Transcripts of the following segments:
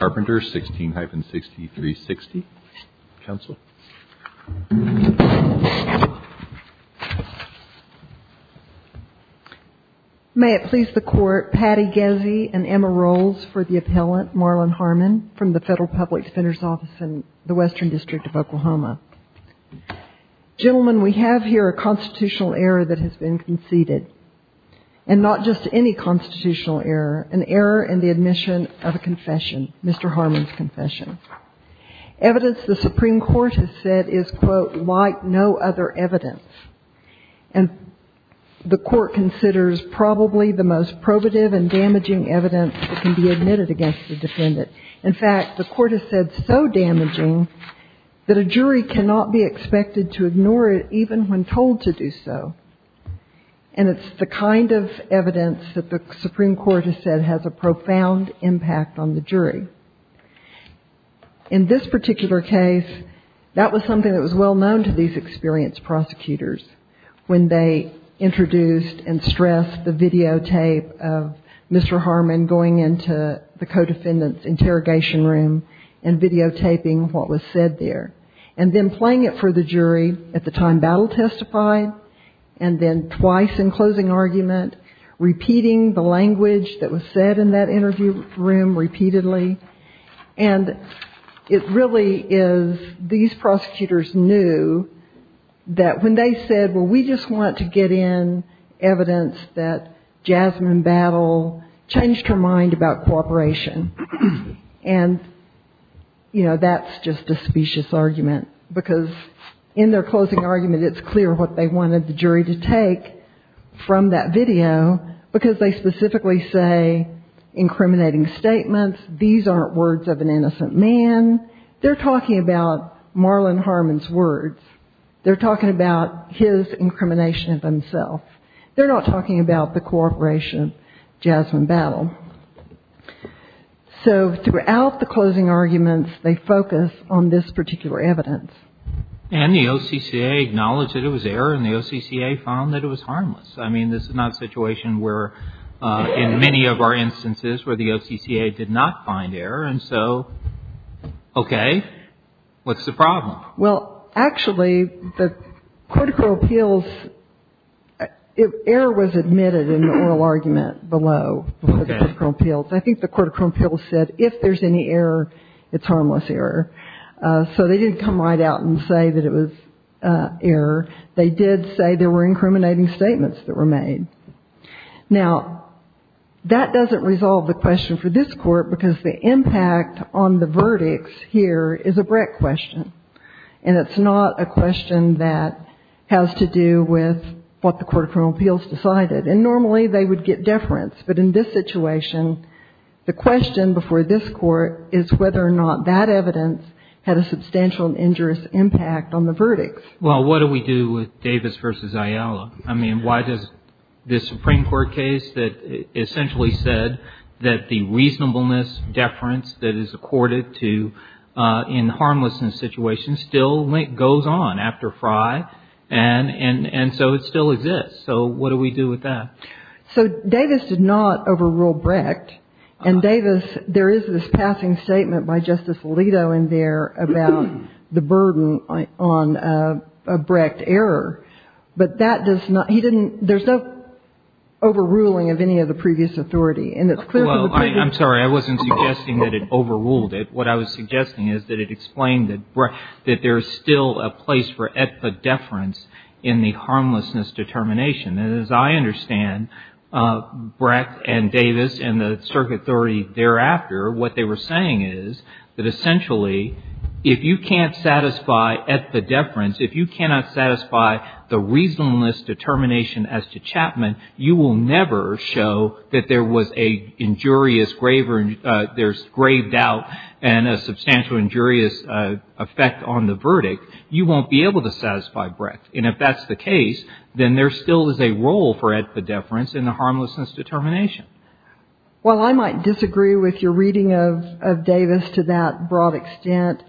16-6360. Counsel. May it please the Court, Patty Gezzi and Emma Rolls for the appellant, Marlon Harmon from the Federal Public Defender's Office in the Western District of Oklahoma. Gentlemen, we have here a constitutional error that has been conceded, and not just any constitutional error, an error in the admission of a confession, Mr. Harmon's confession. Evidence the Supreme Court has said is, quote, like no other evidence, and the Court considers probably the most probative and damaging evidence that can be admitted against the defendant. In fact, the Court has said so damaging that a jury cannot be expected to ignore it even when told to do so. And it's the kind of evidence that the Supreme Court has said has a profound impact on the jury. In this particular case, that was something that was well known to these experienced prosecutors when they introduced and stressed the videotape of Mr. Harmon going into the co-defendant's interrogation room and videotaping what was said there. And then playing it for the jury at the time Battle testified, and then twice in closing argument repeating the language that was said in that interview room repeatedly. And it really is, these prosecutors knew that when they said, well, we just want to get in evidence that Jasmine Battle changed her mind about cooperation. And, you know, that's just a specious argument, because in their closing argument, it's clear what they wanted the jury to take from that video, because they specifically say incriminating statements. These aren't words of an innocent man. They're talking about Marlon Harmon's words. They're talking about his incrimination of himself. They're not talking about the cooperation of Jasmine Battle. So throughout the closing arguments, they focus on this particular evidence. And the OCCA acknowledged that it was error, and the OCCA found that it was harmless. I mean, this is not a situation where, in many of our instances, where the OCCA did not find error. And so, okay, what's the problem? Well, actually, the Court of Criminal Appeals, error was admitted in the oral argument below the Court of Criminal Appeals. I think the Court of Criminal Appeals said if there's any error, it's harmless error. So they didn't come right out and say that it was error. They did say there were incriminating statements that were made. Now, that doesn't resolve the question for this Court, because the impact on the verdicts here is a Brett question. And it's not a question that has to do with what the Court of Criminal Appeals decided. And normally, they would get deference. But in this situation, the question before this Court is whether or not that evidence had a substantial and injurious impact on the verdicts. Well, what do we do with Davis v. Ayala? I mean, why does this Supreme Court case that essentially said that the reasonableness, deference that is accorded to in the harmlessness situation still goes on after Fry? And so it still exists. So what do we do with that? So Davis did not overrule Brecht. And Davis, there is this passing statement by Justice Alito in there about the burden on a Brecht error. But that does not – he didn't – there's no overruling of any of the previous authority. And it's clear from the previous – Well, I'm sorry. I wasn't suggesting that it overruled it. What I was suggesting is that it explained that Brecht – that there is still a place for et pa deference in the harmlessness determination. And as I understand, Brecht and Davis and the circuit authority thereafter, what they were saying is that essentially, if you can't satisfy et pa deference, if you cannot satisfy the reasonableness determination as to Chapman, you will never show that there was an injurious – there's grave doubt and a substantial injurious effect on the verdict. You won't be able to satisfy Brecht. And if that's the case, then there still is a role for et pa deference in the harmlessness determination. Well, I might disagree with your reading of Davis to that broad extent.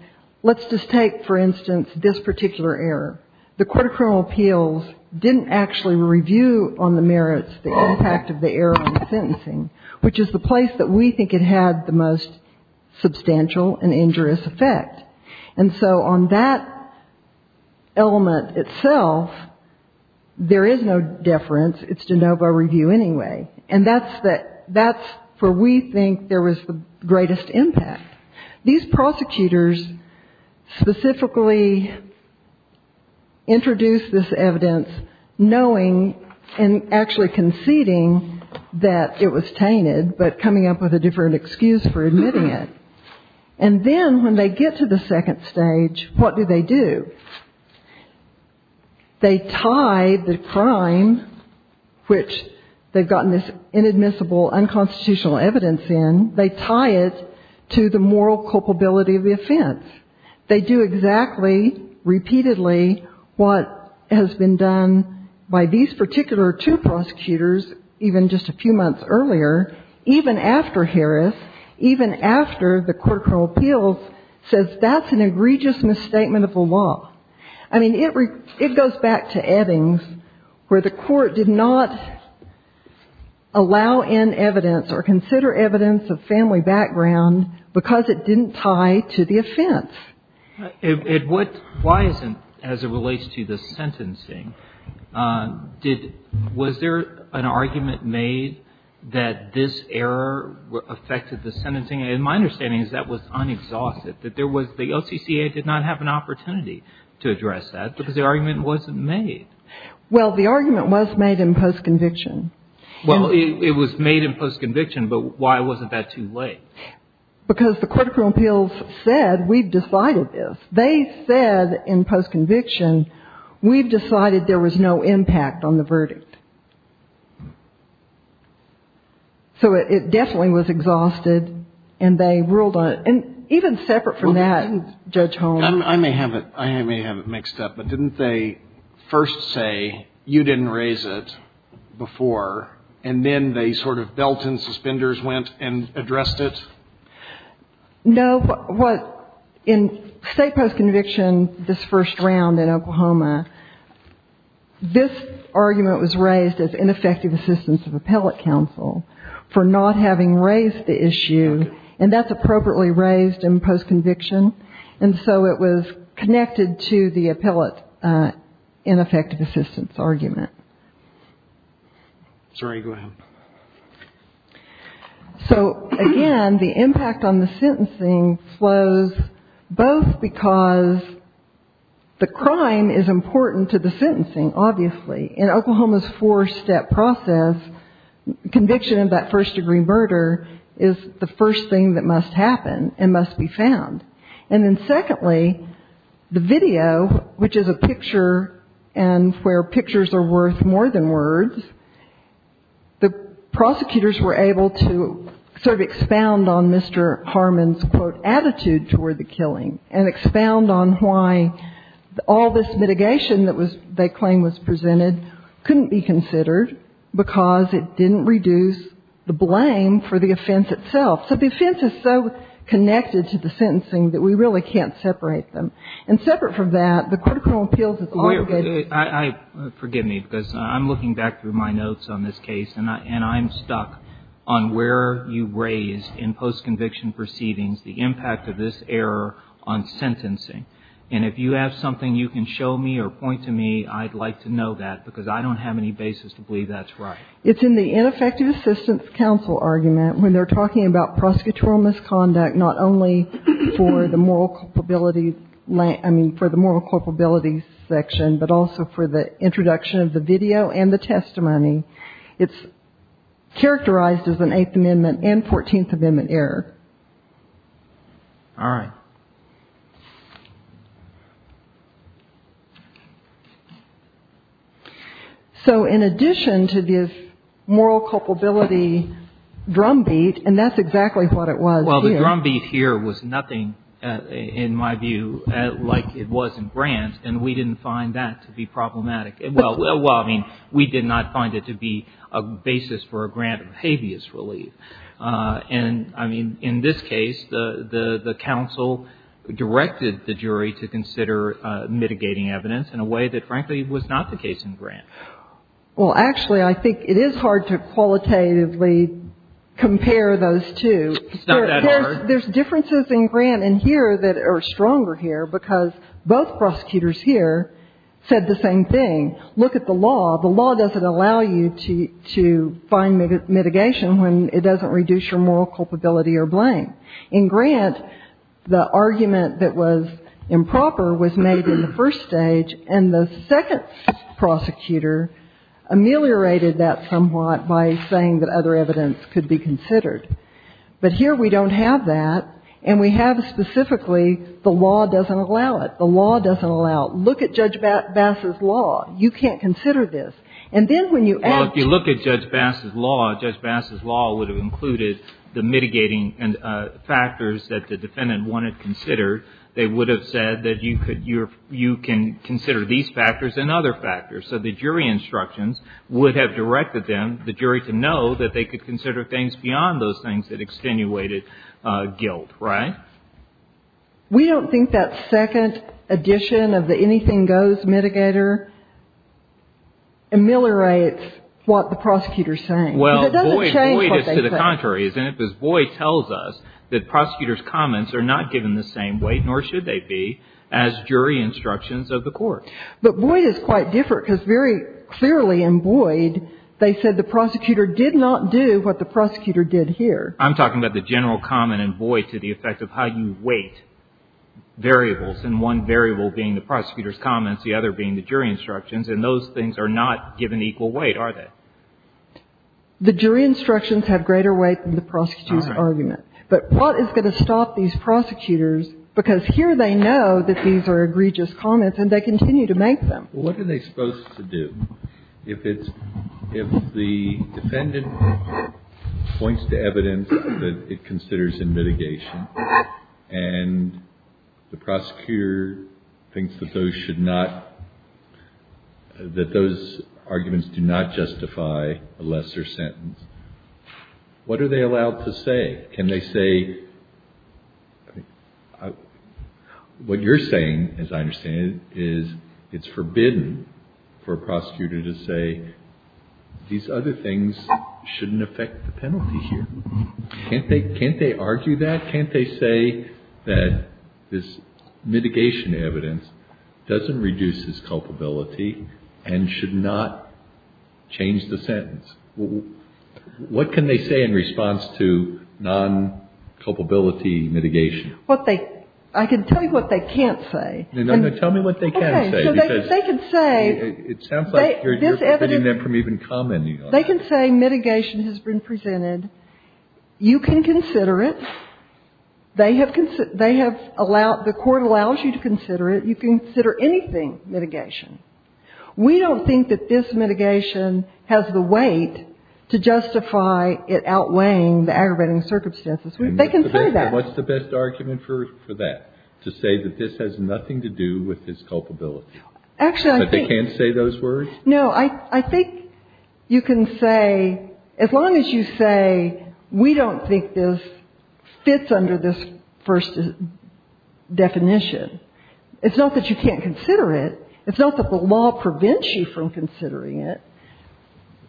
Let's just take, for instance, this particular error. The court of criminal appeals didn't actually review on the merits the impact of the error in the sentencing, which is the place that we think it had the most substantial and injurious effect. And so on that element itself, there is no deference. It's de novo review anyway. And that's where we think there was the greatest impact. These prosecutors specifically introduced this evidence knowing and actually conceding that it was tainted, but coming up with a different excuse for admitting it. And then when they get to the second stage, what do they do? They tie the crime, which they've gotten this inadmissible, unconstitutional evidence in, they tie it to the moral culpability of the offense. They do exactly, repeatedly what has been done by these particular two prosecutors, even just a few months earlier, even after Harris, even after the court of criminal appeals says that's an egregious misstatement of the law. I mean, it goes back to Eddings where the court did not allow in evidence or consider evidence of family background because it didn't tie to the offense. And what, why isn't, as it relates to the sentencing, did, was there an argument made that this error affected the sentencing? And my understanding is that was unexhausted. That there was, the LCCA did not have an opportunity to address that because the argument wasn't made. Well, the argument was made in post-conviction. Well, it was made in post-conviction, but why wasn't that too late? Because the court of criminal appeals said, we've decided this. They said in post-conviction, we've decided there was no impact on the verdict. So it definitely was exhausted and they ruled on it. And even separate from that, Judge Holmes. I may have it, I may have it mixed up, but didn't they first say you didn't raise it before and then they sort of belt and suspenders went and addressed it? No. What, in state post-conviction, this first round in Oklahoma, this argument was raised as ineffective assistance of appellate counsel for not having raised the issue. And that's appropriately raised in post-conviction. And so it was connected to the appellate ineffective assistance argument. Sorry, go ahead. So, again, the impact on the sentencing flows both because the crime is important to the sentencing, obviously. In Oklahoma's four-step process, conviction of that first-degree murder is the first thing that must happen and must be found. And then, secondly, the video, which is a picture and where pictures are worth more than words, the prosecutors were able to sort of expound on Mr. Harmon's, quote, attitude toward the killing and expound on why all this mitigation that they claimed was presented couldn't be considered because it didn't reduce the blame for the offense itself. So the offense is so connected to the sentencing that we really can't separate them. And separate from that, the court of criminal appeals is all good. Forgive me, because I'm looking back through my notes on this case, and I'm stuck on where you raised in post-conviction proceedings the impact of this error on sentencing. And if you have something you can show me or point to me, I'd like to know that, because I don't have any basis to believe that's right. It's in the ineffective assistance counsel argument when they're talking about prosecutorial misconduct not only for the moral culpability, I mean, for the moral culpability section, but also for the introduction of the video and the testimony. It's characterized as an Eighth Amendment and Fourteenth Amendment error. All right. So in addition to this moral culpability drumbeat, and that's exactly what it was here. Well, the drumbeat here was nothing, in my view, like it was in Grant. And we didn't find that to be problematic. Well, I mean, we did not find it to be a basis for a grant of habeas relief. And, I mean, in this case, the counsel directed the jury to consider mitigating evidence in a way that, frankly, was not the case in Grant. Well, actually, I think it is hard to qualitatively compare those two. It's not that hard. There's differences in Grant in here that are stronger here, because both prosecutors here said the same thing. Look at the law. The law doesn't allow you to find mitigation when it doesn't reduce your moral culpability or blame. In Grant, the argument that was improper was made in the first stage, and the second prosecutor ameliorated that somewhat by saying that other evidence could be considered. But here we don't have that, and we have specifically the law doesn't allow it. The law doesn't allow it. You can't consider this. And then when you act… Well, if you look at Judge Bass's law, Judge Bass's law would have included the mitigating factors that the defendant wanted considered. They would have said that you can consider these factors and other factors. So the jury instructions would have directed them, the jury, to know that they could consider things beyond those things that extenuated guilt, right? We don't think that second addition of the anything goes mitigator ameliorates what the prosecutor is saying. Well, Boyd is to the contrary, isn't it? Because Boyd tells us that prosecutors' comments are not given the same weight, nor should they be, as jury instructions of the court. But Boyd is quite different, because very clearly in Boyd they said the prosecutor did not do what the prosecutor did here. I'm talking about the general comment in Boyd to the effect of how you weight variables, and one variable being the prosecutor's comments, the other being the jury instructions. And those things are not given equal weight, are they? The jury instructions have greater weight than the prosecutor's argument. But what is going to stop these prosecutors? Because here they know that these are egregious comments, and they continue to make them. Well, what are they supposed to do? If it's, if the defendant points to evidence that it considers in mitigation, and the prosecutor thinks that those should not, that those arguments do not justify a lesser sentence, what are they allowed to say? Can they say, what you're saying, as I understand it, is it's forbidden for a prosecutor to say these other things shouldn't affect the penalty here. Can't they argue that? Can't they say that this mitigation evidence doesn't reduce his culpability and should not change the sentence? What can they say in response to non-culpability mitigation? What they, I can tell you what they can't say. No, no. Tell me what they can say. Okay. Because they can say. It sounds like you're forbidding them from even commenting on it. They can say mitigation has been presented. You can consider it. They have allowed, the court allows you to consider it. You can consider anything mitigation. We don't think that this mitigation has the weight to justify it outweighing the aggravating circumstances. They can say that. And what's the best argument for that? To say that this has nothing to do with his culpability? Actually, I think. That they can't say those words? No. I think you can say, as long as you say, we don't think this fits under this first definition. It's not that you can't consider it. It's not that the law prevents you from considering it.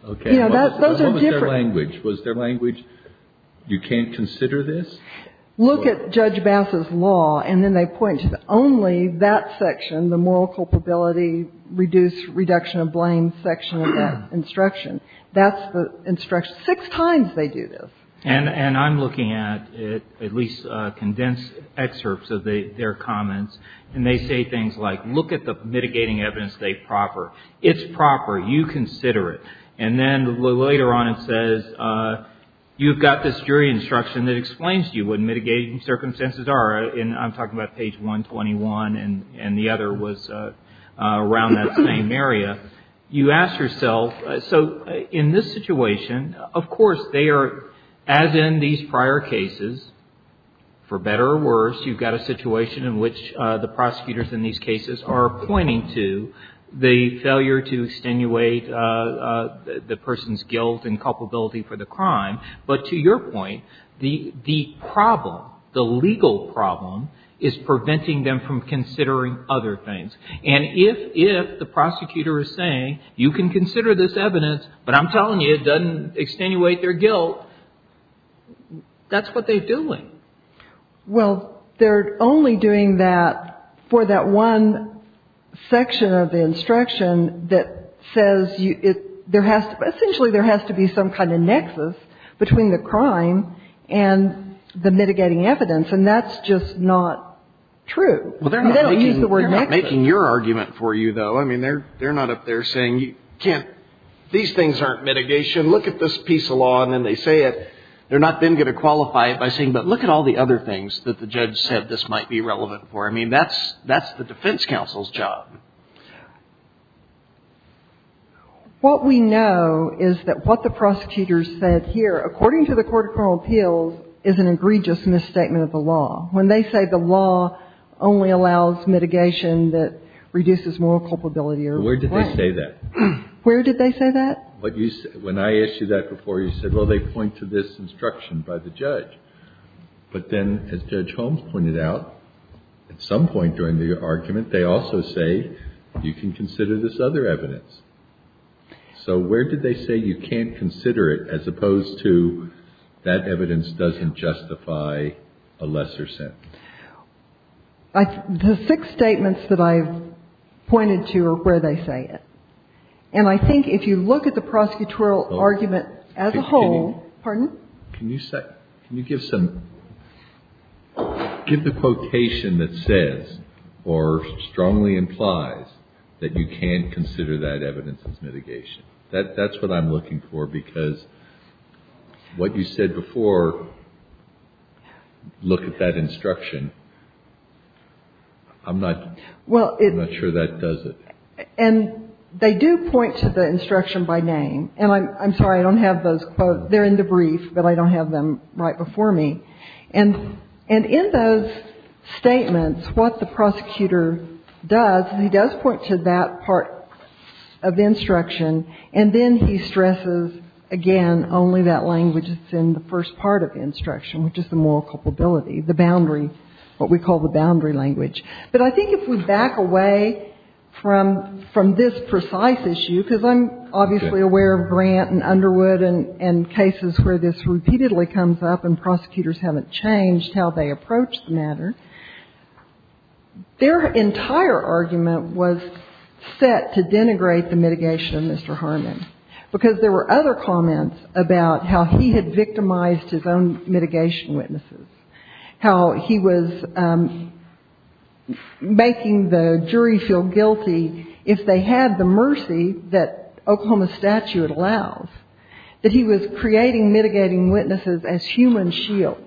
Okay. Those are different. What was their language? Was their language, you can't consider this? Look at Judge Bass's law, and then they point to only that section, the moral culpability, reduce, reduction of blame section of that instruction. That's the instruction. Six times they do this. And I'm looking at at least condensed excerpts of their comments. And they say things like, look at the mitigating evidence they proffer. It's proper. You consider it. And then later on it says, you've got this jury instruction that explains to you what mitigating circumstances are. And I'm talking about page 121, and the other was around that same area. You ask yourself, so in this situation, of course, they are, as in these prior cases, for better or worse, you've got a situation in which the prosecutors in these cases are pointing to the failure to extenuate the person's guilt and culpability for the crime. But to your point, the problem, the legal problem is preventing them from considering other things. And if the prosecutor is saying, you can consider this evidence, but I'm telling you it doesn't extenuate their guilt, that's what they're doing. Well, they're only doing that for that one section of the instruction that says there has to be some kind of nexus between the crime and the mitigating evidence. And that's just not true. They don't use the word nexus. They're not making your argument for you, though. I mean, they're not up there saying, these things aren't mitigation. Look at this piece of law. And then they say it. They're not then going to qualify it by saying, but look at all the other things that the judge said this might be relevant for. I mean, that's the defense counsel's job. What we know is that what the prosecutors said here, according to the Court of Criminal Appeals, is an egregious misstatement of the law, when they say the law only allows mitigation that reduces moral culpability. Where did they say that? Where did they say that? When I asked you that before, you said, well, they point to this instruction by the judge. But then, as Judge Holmes pointed out, at some point during the argument, they also say you can consider this other evidence. So where did they say you can't consider it, as opposed to that evidence doesn't justify a lesser sentence? The six statements that I've pointed to are where they say it. And I think if you look at the prosecutorial argument as a whole, pardon? Can you give the quotation that says or strongly implies that you can consider that evidence as mitigation? That's what I'm looking for, because what you said before, look at that instruction, I'm not sure that does it. And they do point to the instruction by name. And I'm sorry, I don't have those quotes. They're in the brief, but I don't have them right before me. And in those statements, what the prosecutor does, he does point to that part of the instruction. And then he stresses, again, only that language that's in the first part of the instruction, which is the moral culpability, the boundary, what we call the boundary language. But I think if we back away from this precise issue, because I'm obviously aware of Grant and Underwood and cases where this repeatedly comes up and prosecutors haven't changed how they approach the matter, their entire argument was set to denigrate the mitigation of Mr. Harmon, because there were other comments about how he had victimized his own mitigation witnesses, how he was making the jury feel guilty if they had the mercy that Oklahoma statute allows, that he was creating mitigating witnesses as human shields.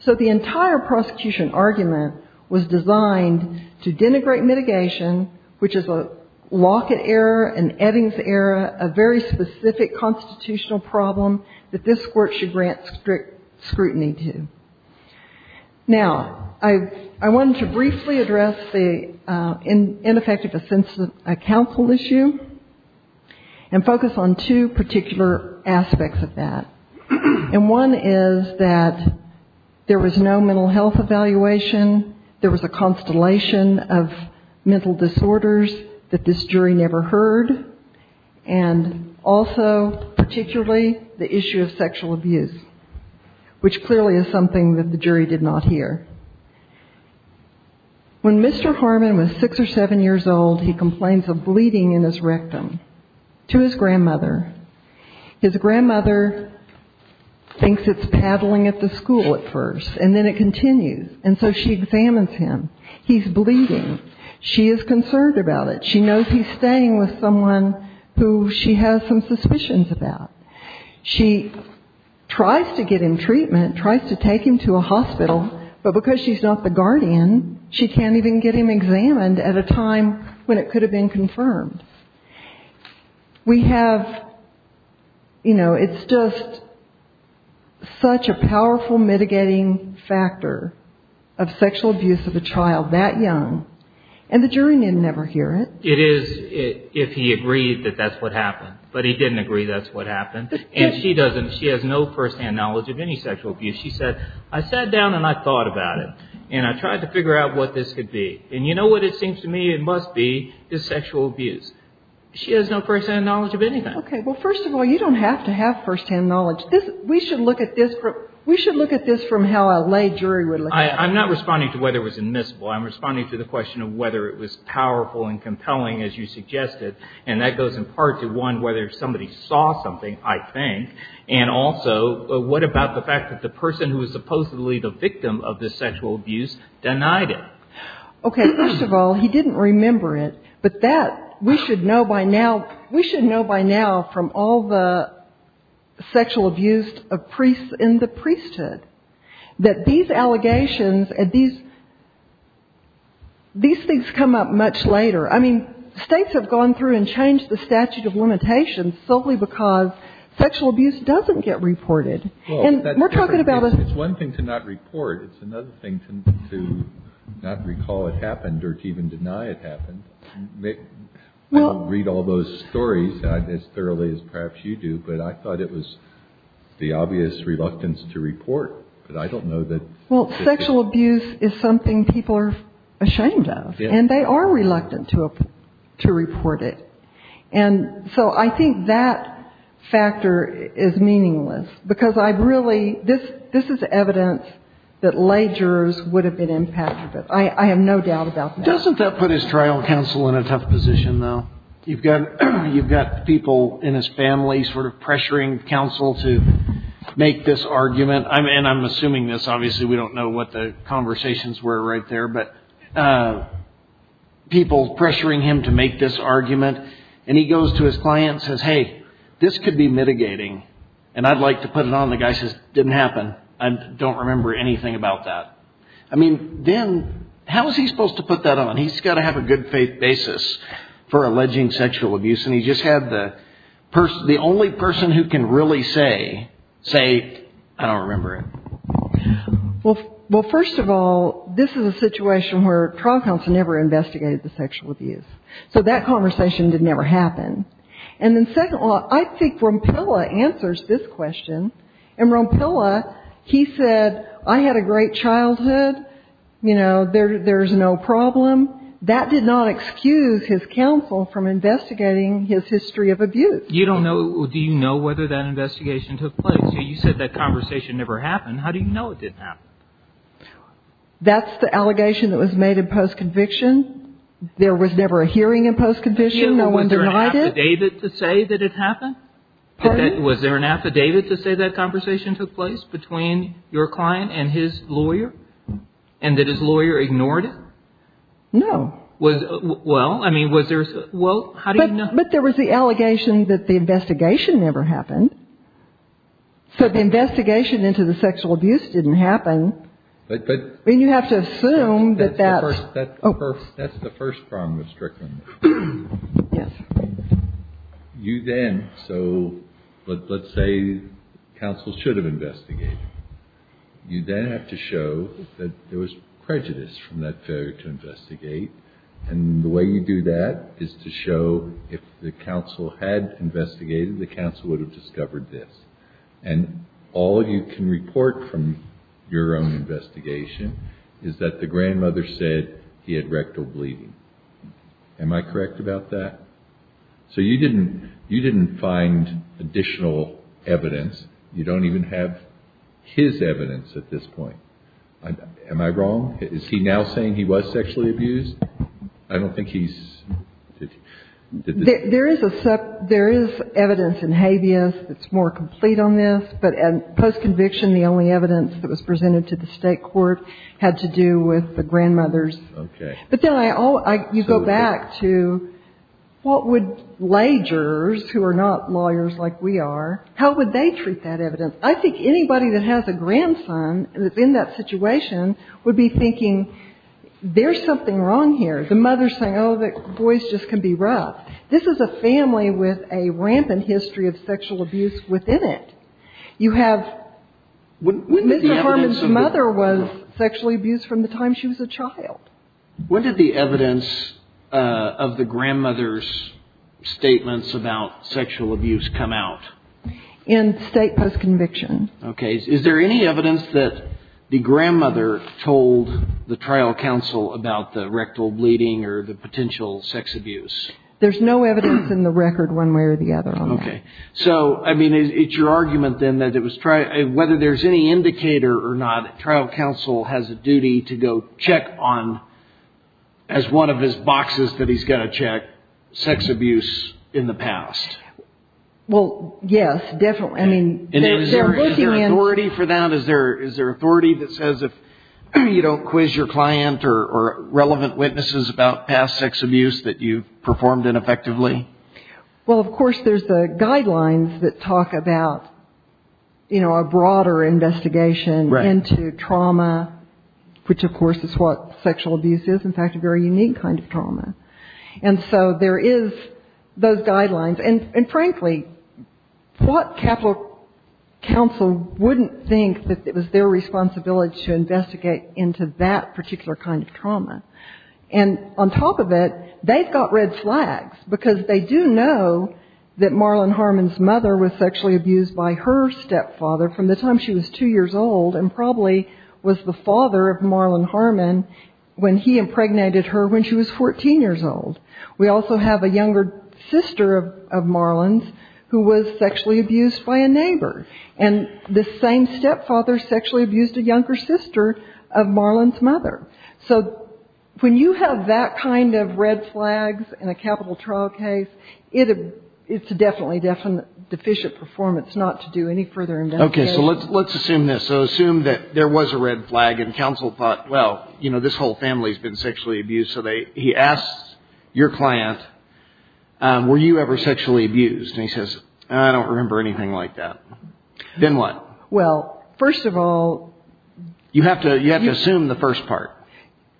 So the entire prosecution argument was designed to denigrate mitigation, which is a Lockett era, an Eddings era, a very specific constitutional problem that this court should grant strict scrutiny to. Now, I wanted to briefly address the ineffective assessment counsel issue and focus on two particular aspects of that. And one is that there was no mental health evaluation, there was a constellation of mental disorders that this jury never heard, and also particularly the issue of sexual abuse, which clearly is something that the jury did not hear. When Mr. Harmon was six or seven years old, he complains of bleeding in his rectum to his grandmother. His grandmother thinks it's paddling at the school at first, and then it continues. And so she examines him. He's bleeding. She is concerned about it. She knows he's staying with someone who she has some suspicions about. She tries to get him treatment, tries to take him to a hospital, but because she's not the guardian, she can't even get him examined at a time when it could have been confirmed. We have, you know, it's just such a powerful mitigating factor of sexual abuse of a child that young, and the jury didn't ever hear it. It is if he agreed that that's what happened. But he didn't agree that's what happened. And she doesn't. She has no firsthand knowledge of any sexual abuse. She said, I sat down and I thought about it, and I tried to figure out what this could be. And you know what it seems to me it must be is sexual abuse. She has no firsthand knowledge of anything. Okay. Well, first of all, you don't have to have firsthand knowledge. We should look at this from how a lay jury would look at it. I'm not responding to whether it was admissible. I'm responding to the question of whether it was powerful and compelling, as you suggested, and that goes in part to, one, whether somebody saw something, I think, and also what about the fact that the person who was supposedly the victim of the sexual abuse denied it? Okay. First of all, he didn't remember it, but that we should know by now, we should know by now from all the sexual abuse of priests in the priesthood, that these allegations, these things come up much later. I mean, states have gone through and changed the statute of limitations solely because sexual abuse doesn't get reported. And we're talking about a... It's one thing to not report. It's another thing to not recall it happened or to even deny it happened. I don't read all those stories as thoroughly as perhaps you do, but I thought it was the obvious reluctance to report. But I don't know that... Well, sexual abuse is something people are ashamed of, and they are reluctant to report it. And so I think that factor is meaningless because I've really... This is evidence that lay jurors would have been impacted. I have no doubt about that. Doesn't that put his trial counsel in a tough position, though? You've got people in his family sort of pressuring counsel to make this argument. And I'm assuming this. Obviously, we don't know what the conversations were right there, but people pressuring him to make this argument. And he goes to his client and says, hey, this could be mitigating, and I'd like to put it on. The guy says, didn't happen. I don't remember anything about that. I mean, then how is he supposed to put that on? He's got to have a good faith basis for alleging sexual abuse, and he just had the only person who can really say, I don't remember it. Well, first of all, this is a situation where trial counsel never investigated the sexual abuse. So that conversation did never happen. And then second of all, I think Rompilla answers this question. And Rompilla, he said, I had a great childhood. You know, there's no problem. That did not excuse his counsel from investigating his history of abuse. You don't know. Do you know whether that investigation took place? You said that conversation never happened. How do you know it didn't happen? That's the allegation that was made in post-conviction. There was never a hearing in post-conviction. No one denied it. Was there an affidavit to say that it happened? Was there an affidavit to say that conversation took place between your client and his lawyer? And that his lawyer ignored it? No. Was, well, I mean, was there, well, how do you know? But there was the allegation that the investigation never happened. So the investigation into the sexual abuse didn't happen. But, but. I mean, you have to assume that that's. That's the first problem with Strickland. Yes. You then, so, let's say counsel should have investigated. You then have to show that there was prejudice from that failure to investigate. And the way you do that is to show if the counsel had investigated, the counsel would have discovered this. And all you can report from your own investigation is that the grandmother said he had rectal bleeding. Am I correct about that? So you didn't, you didn't find additional evidence. You don't even have his evidence at this point. Am I wrong? Is he now saying he was sexually abused? I don't think he's. There is evidence in habeas that's more complete on this. But post-conviction, the only evidence that was presented to the state court had to do with the grandmother's. Okay. But then I, you go back to what would lagers, who are not lawyers like we are, how would they treat that evidence? I think anybody that has a grandson in that situation would be thinking there's something wrong here. The mother's saying, oh, that boys just can be rough. This is a family with a rampant history of sexual abuse within it. You have Mr. Harmon's mother was sexually abused from the time she was a child. When did the evidence of the grandmother's statements about sexual abuse come out? In state post-conviction. Okay. Is there any evidence that the grandmother told the trial counsel about the rectal bleeding or the potential sex abuse? There's no evidence in the record one way or the other on that. Okay. So, I mean, it's your argument then that it was, whether there's any indicator or not, trial counsel has a duty to go check on, as one of his boxes that he's got to check, sex abuse in the past. Well, yes, definitely. I mean, they're looking into it. Is there authority for that? Is there authority that says if you don't quiz your client or relevant witnesses about past sex abuse that you've performed ineffectively? Well, of course, there's the guidelines that talk about, you know, a broader investigation into trauma, which, of course, is what sexual abuse is, in fact, a very unique kind of trauma. And so there is those guidelines. And, frankly, what capital counsel wouldn't think that it was their responsibility to investigate into that particular kind of trauma? And, on top of it, they've got red flags, because they do know that Marlon Harmon's mother was sexually abused by her stepfather from the time she was two years old and probably was the father of Marlon Harmon when he impregnated her when she was 14 years old. We also have a younger sister of Marlon's who was sexually abused by a neighbor. And the same stepfather sexually abused a younger sister of Marlon's mother. So when you have that kind of red flags in a capital trial case, it's a definitely deficient performance not to do any further investigation. Okay, so let's assume this. So assume that there was a red flag and counsel thought, well, you know, this whole family's been sexually abused. So he asks your client, were you ever sexually abused? And he says, I don't remember anything like that. Then what? Well, first of all, you have to assume the first part.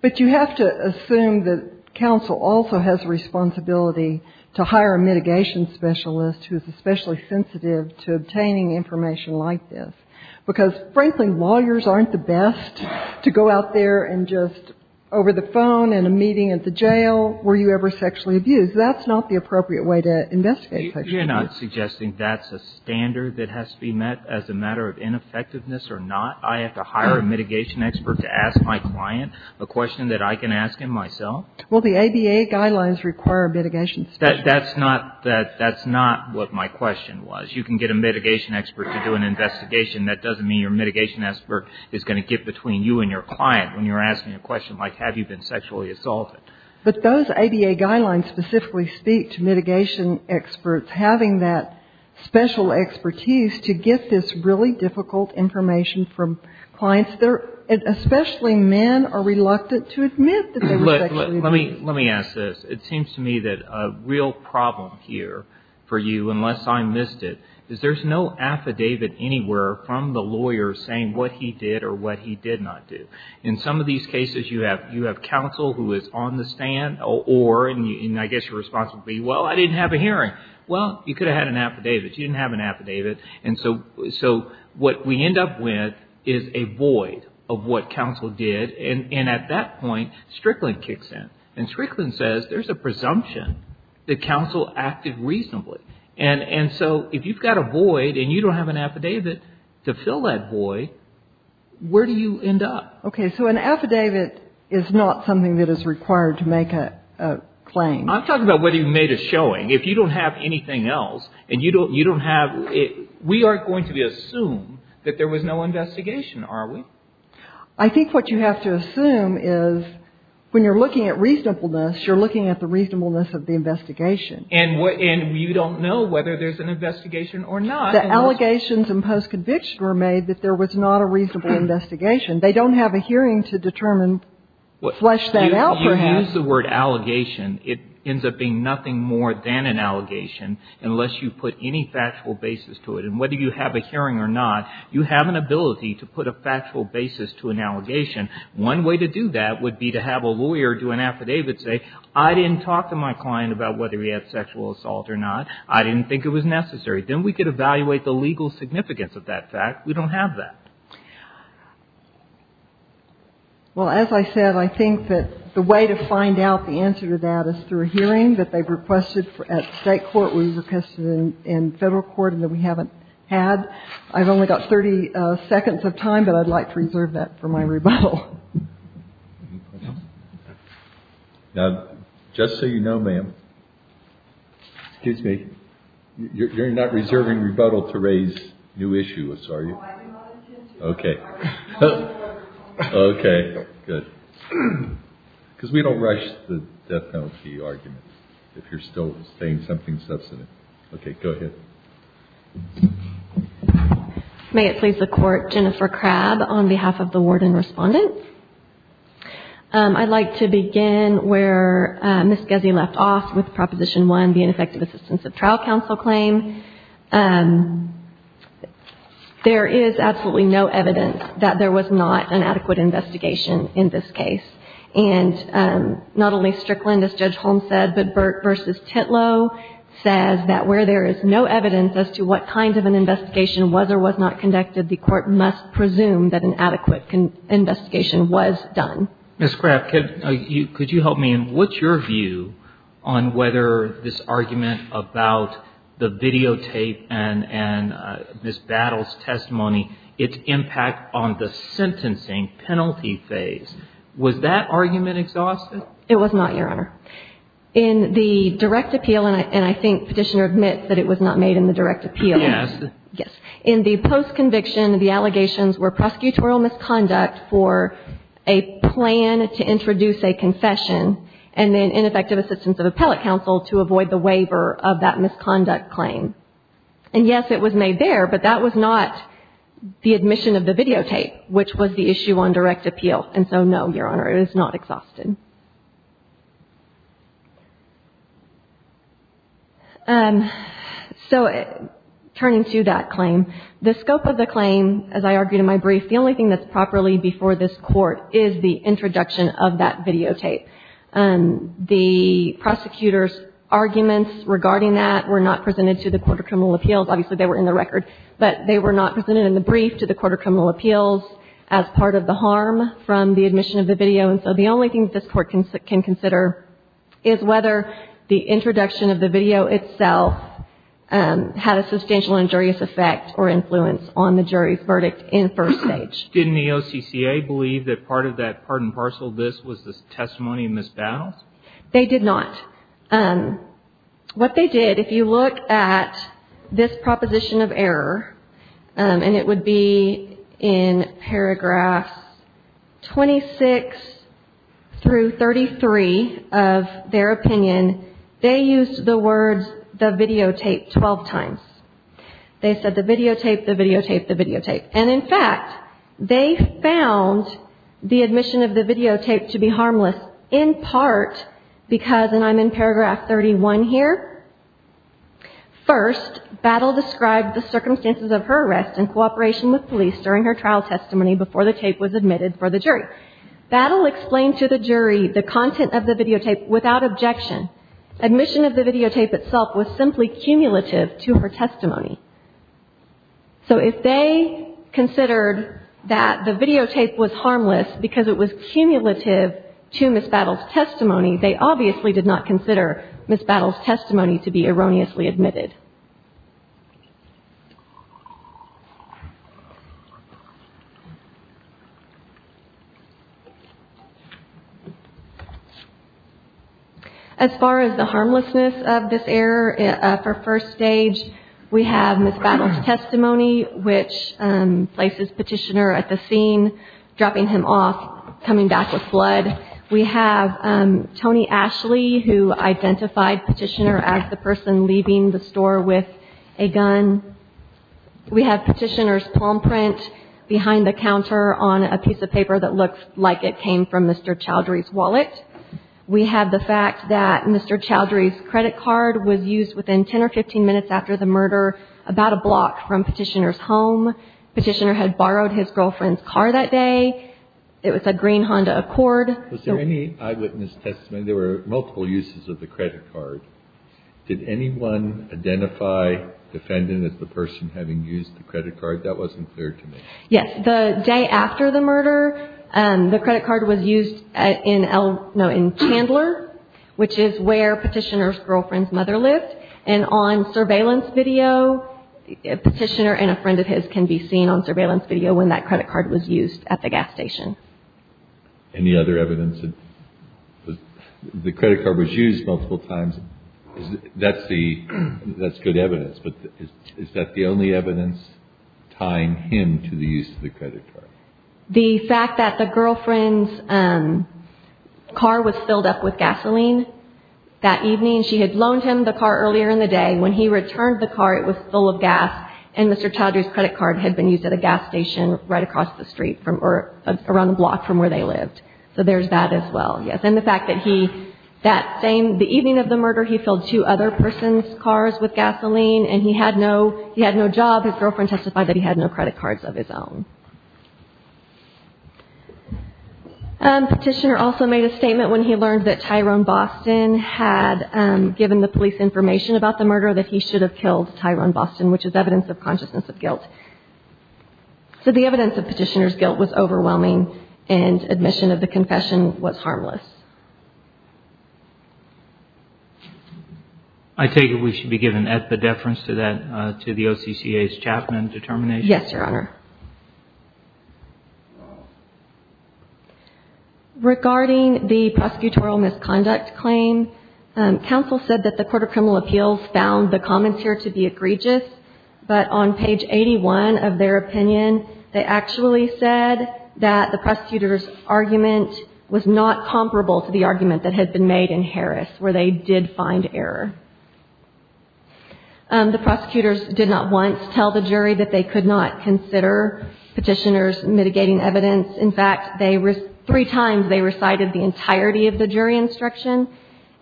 But you have to assume that counsel also has a responsibility to hire a mitigation specialist who is especially sensitive to obtaining information like this, because, frankly, lawyers aren't the best to go out there and just over the phone in a meeting at the jail, were you ever sexually abused. That's not the appropriate way to investigate sexual abuse. You're not suggesting that's a standard that has to be met as a matter of ineffectiveness or not? I have to hire a mitigation expert to ask my client a question that I can ask him myself? Well, the ABA guidelines require a mitigation specialist. That's not what my question was. You can get a mitigation expert to do an investigation. That doesn't mean your mitigation expert is going to get between you and your client when you're asking a question like, have you been sexually assaulted? But those ABA guidelines specifically speak to mitigation experts having that special expertise to get this really difficult information from clients. Especially men are reluctant to admit that they were sexually abused. Let me ask this. It seems to me that a real problem here for you, unless I missed it, is there's no affidavit anywhere from the lawyer saying what he did or what he did not do. In some of these cases, you have counsel who is on the stand or, and I guess your response would be, well, I didn't have a hearing. Well, you could have had an affidavit. You didn't have an affidavit. And so what we end up with is a void of what counsel did. And at that point, Strickland kicks in. And Strickland says there's a presumption that counsel acted reasonably. And so if you've got a void and you don't have an affidavit to fill that void, where do you end up? Okay. So an affidavit is not something that is required to make a claim. I'm talking about whether you made a showing. If you don't have anything else and you don't have, we aren't going to assume that there was no investigation, are we? I think what you have to assume is when you're looking at reasonableness, you're looking at the reasonableness of the investigation. And you don't know whether there's an investigation or not. The allegations in post-conviction were made that there was not a reasonable investigation. They don't have a hearing to determine, flesh that out perhaps. You use the word allegation. It ends up being nothing more than an allegation unless you put any factual basis to it. And whether you have a hearing or not, you have an ability to put a factual basis to an allegation. One way to do that would be to have a lawyer do an affidavit and say, I didn't talk to my client about whether he had sexual assault or not. I didn't think it was necessary. Then we could evaluate the legal significance of that fact. We don't have that. Well, as I said, I think that the way to find out the answer to that is through a hearing that they've requested at State court. We've requested in Federal court and that we haven't had. I've only got 30 seconds of time, but I'd like to reserve that for my rebuttal. Now, just so you know, ma'am. Excuse me. You're not reserving rebuttal to raise new issues, are you? Okay. Okay. Good. Because we don't rush the death penalty arguments if you're still saying something substantive. Okay. Go ahead. May it please the Court. Jennifer Crabb on behalf of the warden respondent. I'd like to begin where Ms. Gezzi left off with Proposition 1, the ineffective assistance of trial counsel claim. There is absolutely no evidence that there was not an adequate investigation in this case. And not only Strickland, as Judge Holmes said, but Burt v. Titlow says that where there is no evidence as to what kind of an investigation was or was not conducted, the Court must presume that an adequate investigation was done. Ms. Crabb, could you help me? And what's your view on whether this argument about the videotape and Ms. Battle's testimony, its impact on the sentencing penalty phase, was that argument exhausted? It was not, Your Honor. In the direct appeal, and I think Petitioner admits that it was not made in the direct appeal. Yes. Yes. In the post-conviction, the allegations were prosecutorial misconduct for a plan to introduce a confession and then ineffective assistance of appellate counsel to avoid the waiver of that misconduct claim. And yes, it was made there, but that was not the admission of the videotape, which was the issue on direct appeal. And so, no, Your Honor, it is not exhausted. So turning to that claim, the scope of the claim, as I argued in my brief, the only thing that's properly before this Court is the introduction of that videotape. The prosecutor's arguments regarding that were not presented to the Court of Criminal Appeals. Obviously, they were in the record. But they were not presented in the brief to the Court of Criminal Appeals as part of the harm from the admission of the video. And so the only thing that this Court can consider is whether the introduction of the video itself had a substantial injurious effect or influence on the jury's verdict in first stage. Didn't the OCCA believe that part of that part and parcel of this was the testimony of Ms. Battle's? They did not. What they did, if you look at this proposition of error, and it would be in paragraphs 26 through 33 of their opinion, they used the words the videotape 12 times. They said the videotape, the videotape, the videotape. And in fact, they found the admission of the videotape to be harmless in part because, and I'm in paragraph 31 here, first, Battle described the circumstances of her arrest in cooperation with police during her trial testimony before the tape was admitted for the jury. Battle explained to the jury the content of the videotape without objection. Admission of the videotape itself was simply cumulative to her testimony. So if they considered that the videotape was harmless because it was cumulative to Ms. Battle's testimony, they obviously did not consider Ms. Battle's testimony to be erroneously admitted. As far as the harmlessness of this error, for first stage, we have Ms. Battle's testimony, which places Petitioner at the scene, dropping him off, coming back with blood. We have Tony Ashley, who identified Petitioner as the person leaving the store with a gun. We have Petitioner's palm print behind the counter on a piece of paper that looks like it came from Mr. Chowdhury's wallet. We have the fact that Mr. Chowdhury's credit card was used within 10 or 15 minutes after the murder, about a block from Petitioner's home. Petitioner had borrowed his girlfriend's car that day. It was a green Honda Accord. Was there any eyewitness testimony? There were multiple uses of the credit card. Did anyone identify the defendant as the person having used the credit card? That wasn't clear to me. Yes. The day after the murder, the credit card was used in Chandler, which is where Petitioner's girlfriend's mother lived. And on surveillance video, Petitioner and a friend of his can be seen on surveillance video when that credit card was used at the gas station. Any other evidence that the credit card was used multiple times? That's good evidence, but is that the only evidence tying him to the use of the credit card? The fact that the girlfriend's car was filled up with gasoline that evening. She had loaned him the car earlier in the day. When he returned the car, it was full of gas, and Mr. Chaudry's credit card had been used at a gas station right across the street, or around the block from where they lived. So there's that as well, yes. And the fact that he, that same evening of the murder, he filled two other persons' cars with gasoline, and he had no job, his girlfriend testified that he had no credit cards of his own. Petitioner also made a statement when he learned that Tyrone Boston had given the police information about the murder that he should have killed Tyrone Boston, which is evidence of consciousness of guilt. So the evidence of Petitioner's guilt was overwhelming, and admission of the confession was harmless. I take it we should be given at the deference to that, to the OCCA's Chapman determination? Yes, Your Honor. Regarding the prosecutorial misconduct claim, counsel said that the Court of Criminal Appeals found the comments here to be egregious, but on page 81 of their opinion, they actually said that the prosecutor's argument was not comparable to the argument that had been made in Harris, where they did find error. The prosecutors did not want to tell the jury that they could not consider Petitioner's mitigating evidence. In fact, they, three times they recited the entirety of the jury instruction,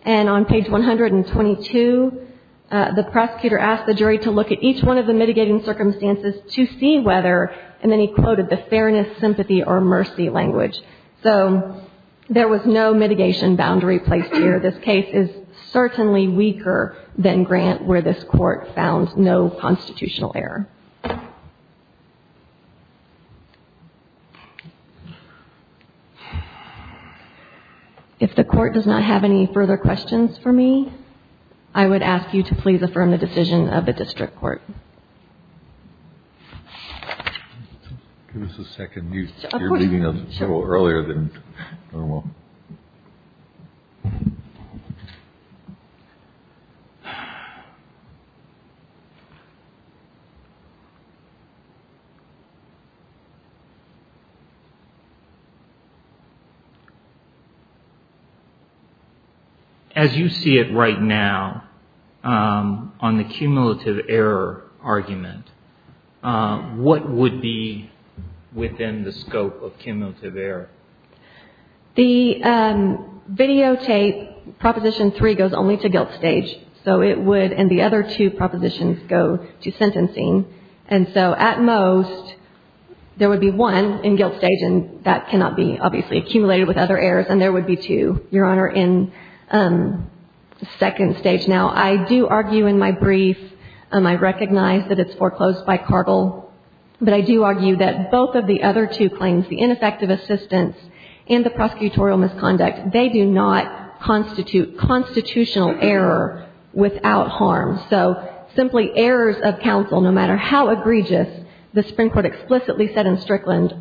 and on page 122, the prosecutor asked the jury to look at each one of the mitigating circumstances to see whether, and then he quoted the fairness, sympathy, or mercy language. So there was no mitigation boundary placed here. The evidence for this case is certainly weaker than Grant, where this Court found no constitutional error. If the Court does not have any further questions for me, I would ask you to please affirm the decision of the district court. Give us a second. You're leading us a little earlier than normal. As you see it right now, on the cumulative error argument, what would be within the scope of cumulative error? The videotape, Proposition 3, goes only to guilt stage. So it would, and the other two propositions go to sentencing. And so at most, there would be one in guilt stage, and that cannot be obviously accumulated with other errors, and there would be two, Your Honor, in second stage. Now, I do argue in my brief, I recognize that it's foreclosed by Cargill, but I do argue that both of the other two claims, the ineffective assistance and the prosecutorial misconduct, they do not constitute constitutional error without harm. So simply errors of counsel, no matter how egregious, the Supreme Court explicitly said in Strickland,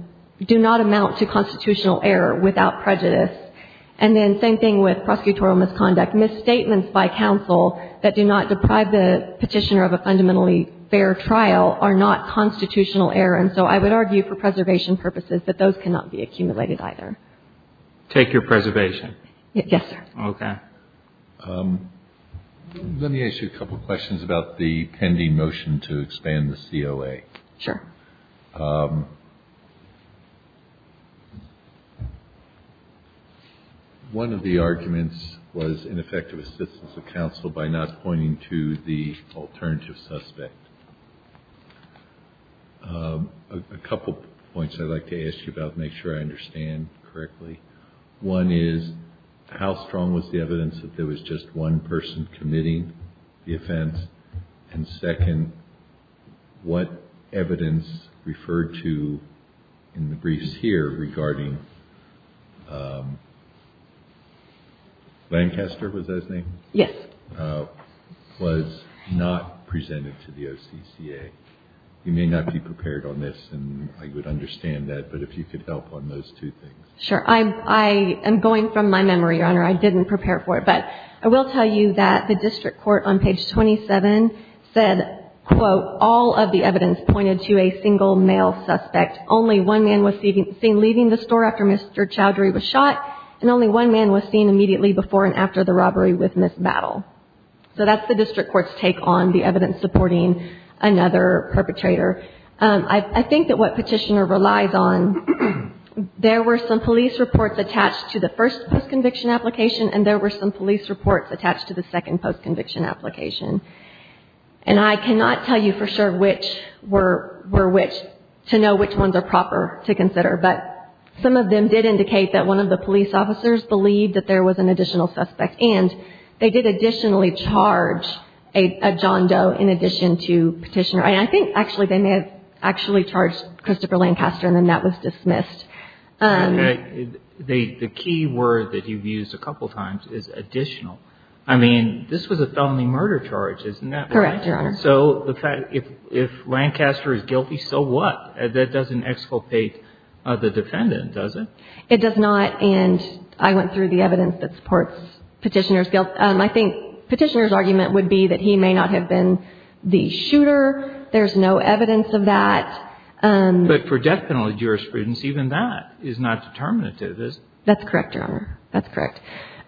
do not amount to constitutional error without prejudice. And then same thing with prosecutorial misconduct. Misstatements by counsel that do not deprive the petitioner of a fundamentally fair trial are not constitutional error. And so I would argue for preservation purposes that those cannot be accumulated either. Take your preservation. Yes, sir. Okay. Let me ask you a couple questions about the pending motion to expand the COA. Sure. One of the arguments was ineffective assistance of counsel by not pointing to the alternative suspect. A couple points I'd like to ask you about to make sure I understand correctly. One is how strong was the evidence that there was just one person committing the offense? And second, what evidence referred to in the briefs here regarding Lancaster, was that his name? Yes. Was not presented to the OCCA. You may not be prepared on this, and I would understand that, but if you could help on those two things. I am going from my memory, Your Honor. I didn't prepare for it. But I will tell you that the district court on page 27 said, quote, all of the evidence pointed to a single male suspect. Only one man was seen leaving the store after Mr. Chowdhury was shot. And only one man was seen immediately before and after the robbery with Ms. Battle. So that's the district court's take on the evidence supporting another perpetrator. I think that what petitioner relies on, there were some police reports attached to the first postconviction application, and there were some police reports attached to the second postconviction application. And I cannot tell you for sure which were which, to know which ones are proper to consider. But some of them did indicate that one of the police officers believed that there was an additional suspect. And they did additionally charge a John Doe in addition to petitioner. And I think, actually, they may have actually charged Christopher Lancaster, and then that was dismissed. The key word that you've used a couple times is additional. I mean, this was a felony murder charge, isn't that right? Correct, Your Honor. So if Lancaster is guilty, so what? That doesn't exculpate the defendant, does it? It does not. And I went through the evidence that supports petitioner's guilt. I think petitioner's argument would be that he may not have been the shooter. There's no evidence of that. But for death penalty jurisprudence, even that is not determinative, is it? That's correct, Your Honor. That's correct.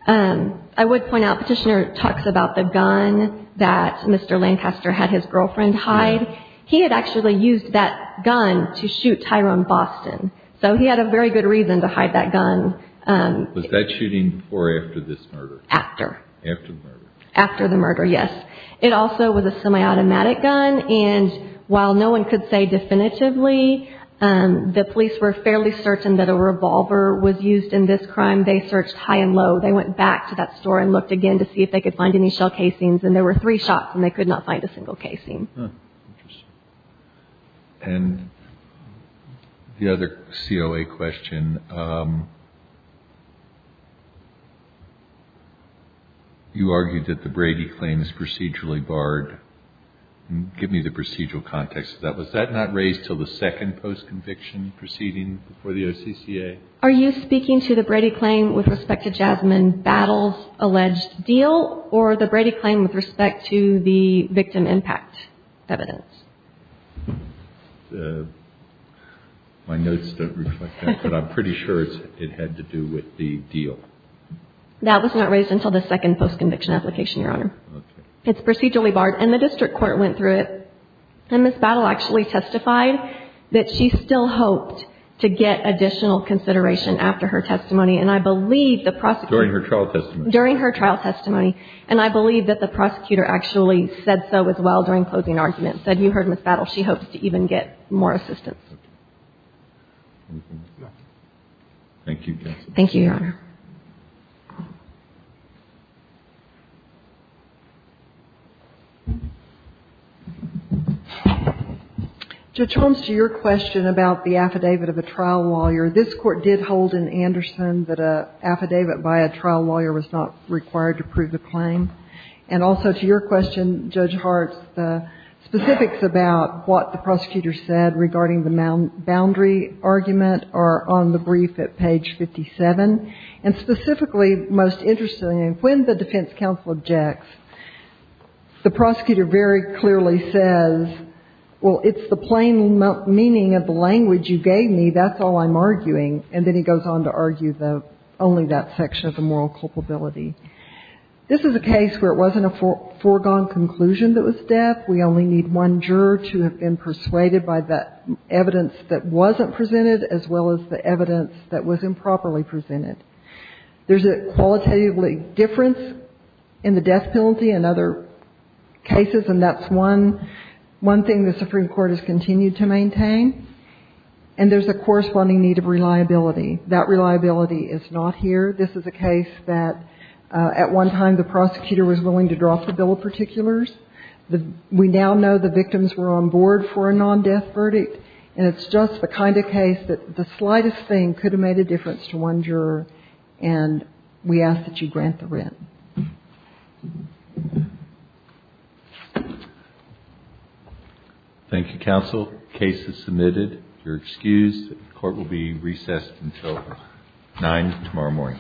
I would point out petitioner talks about the gun that Mr. Lancaster had his girlfriend hide. He had actually used that gun to shoot Tyrone Boston. So he had a very good reason to hide that gun. Was that shooting before or after this murder? After. After the murder. After the murder, yes. It also was a semi-automatic gun. And while no one could say definitively, the police were fairly certain that a revolver was used in this crime, they searched high and low. They went back to that store and looked again to see if they could find any shell casings. And there were three shots, and they could not find a single casing. Interesting. And the other COA question, you argued that the Brady claim is procedurally barred. Give me the procedural context of that. Was that not raised until the second post-conviction proceeding before the OCCA? Are you speaking to the Brady claim with respect to Jasmine Battle's alleged deal or the Brady claim with respect to the victim impact evidence? My notes don't reflect that, but I'm pretty sure it had to do with the deal. That was not raised until the second post-conviction application, Your Honor. Okay. It's procedurally barred. And the district court went through it. And Ms. Battle actually testified that she still hoped to get additional consideration after her testimony. And I believe the prosecutor – During her trial testimony. During her trial testimony. And I believe that the prosecutor actually said so as well during closing arguments, said, you heard Ms. Battle, she hopes to even get more assistance. Thank you, Justice. Thank you, Your Honor. To return to your question about the affidavit of a trial lawyer, this Court did hold in And also, to your question, Judge Hartz, the specifics about what the prosecutor said regarding the boundary argument are on the brief at page 57. And specifically, most interestingly, when the defense counsel objects, the prosecutor very clearly says, well, it's the plain meaning of the language you gave me. That's all I'm arguing. And then he goes on to argue only that section of the moral culpability. This is a case where it wasn't a foregone conclusion that was death. We only need one juror to have been persuaded by that evidence that wasn't presented as well as the evidence that was improperly presented. There's a qualitatively difference in the death penalty in other cases, and that's one thing the Supreme Court has continued to maintain. And there's a corresponding need of reliability. That reliability is not here. This is a case that at one time the prosecutor was willing to drop the bill of particulars. We now know the victims were on board for a non-death verdict. And it's just the kind of case that the slightest thing could have made a difference to one juror. And we ask that you grant the writ. Thank you, counsel. The case is submitted. You're excused. The court will be recessed until 9 tomorrow morning.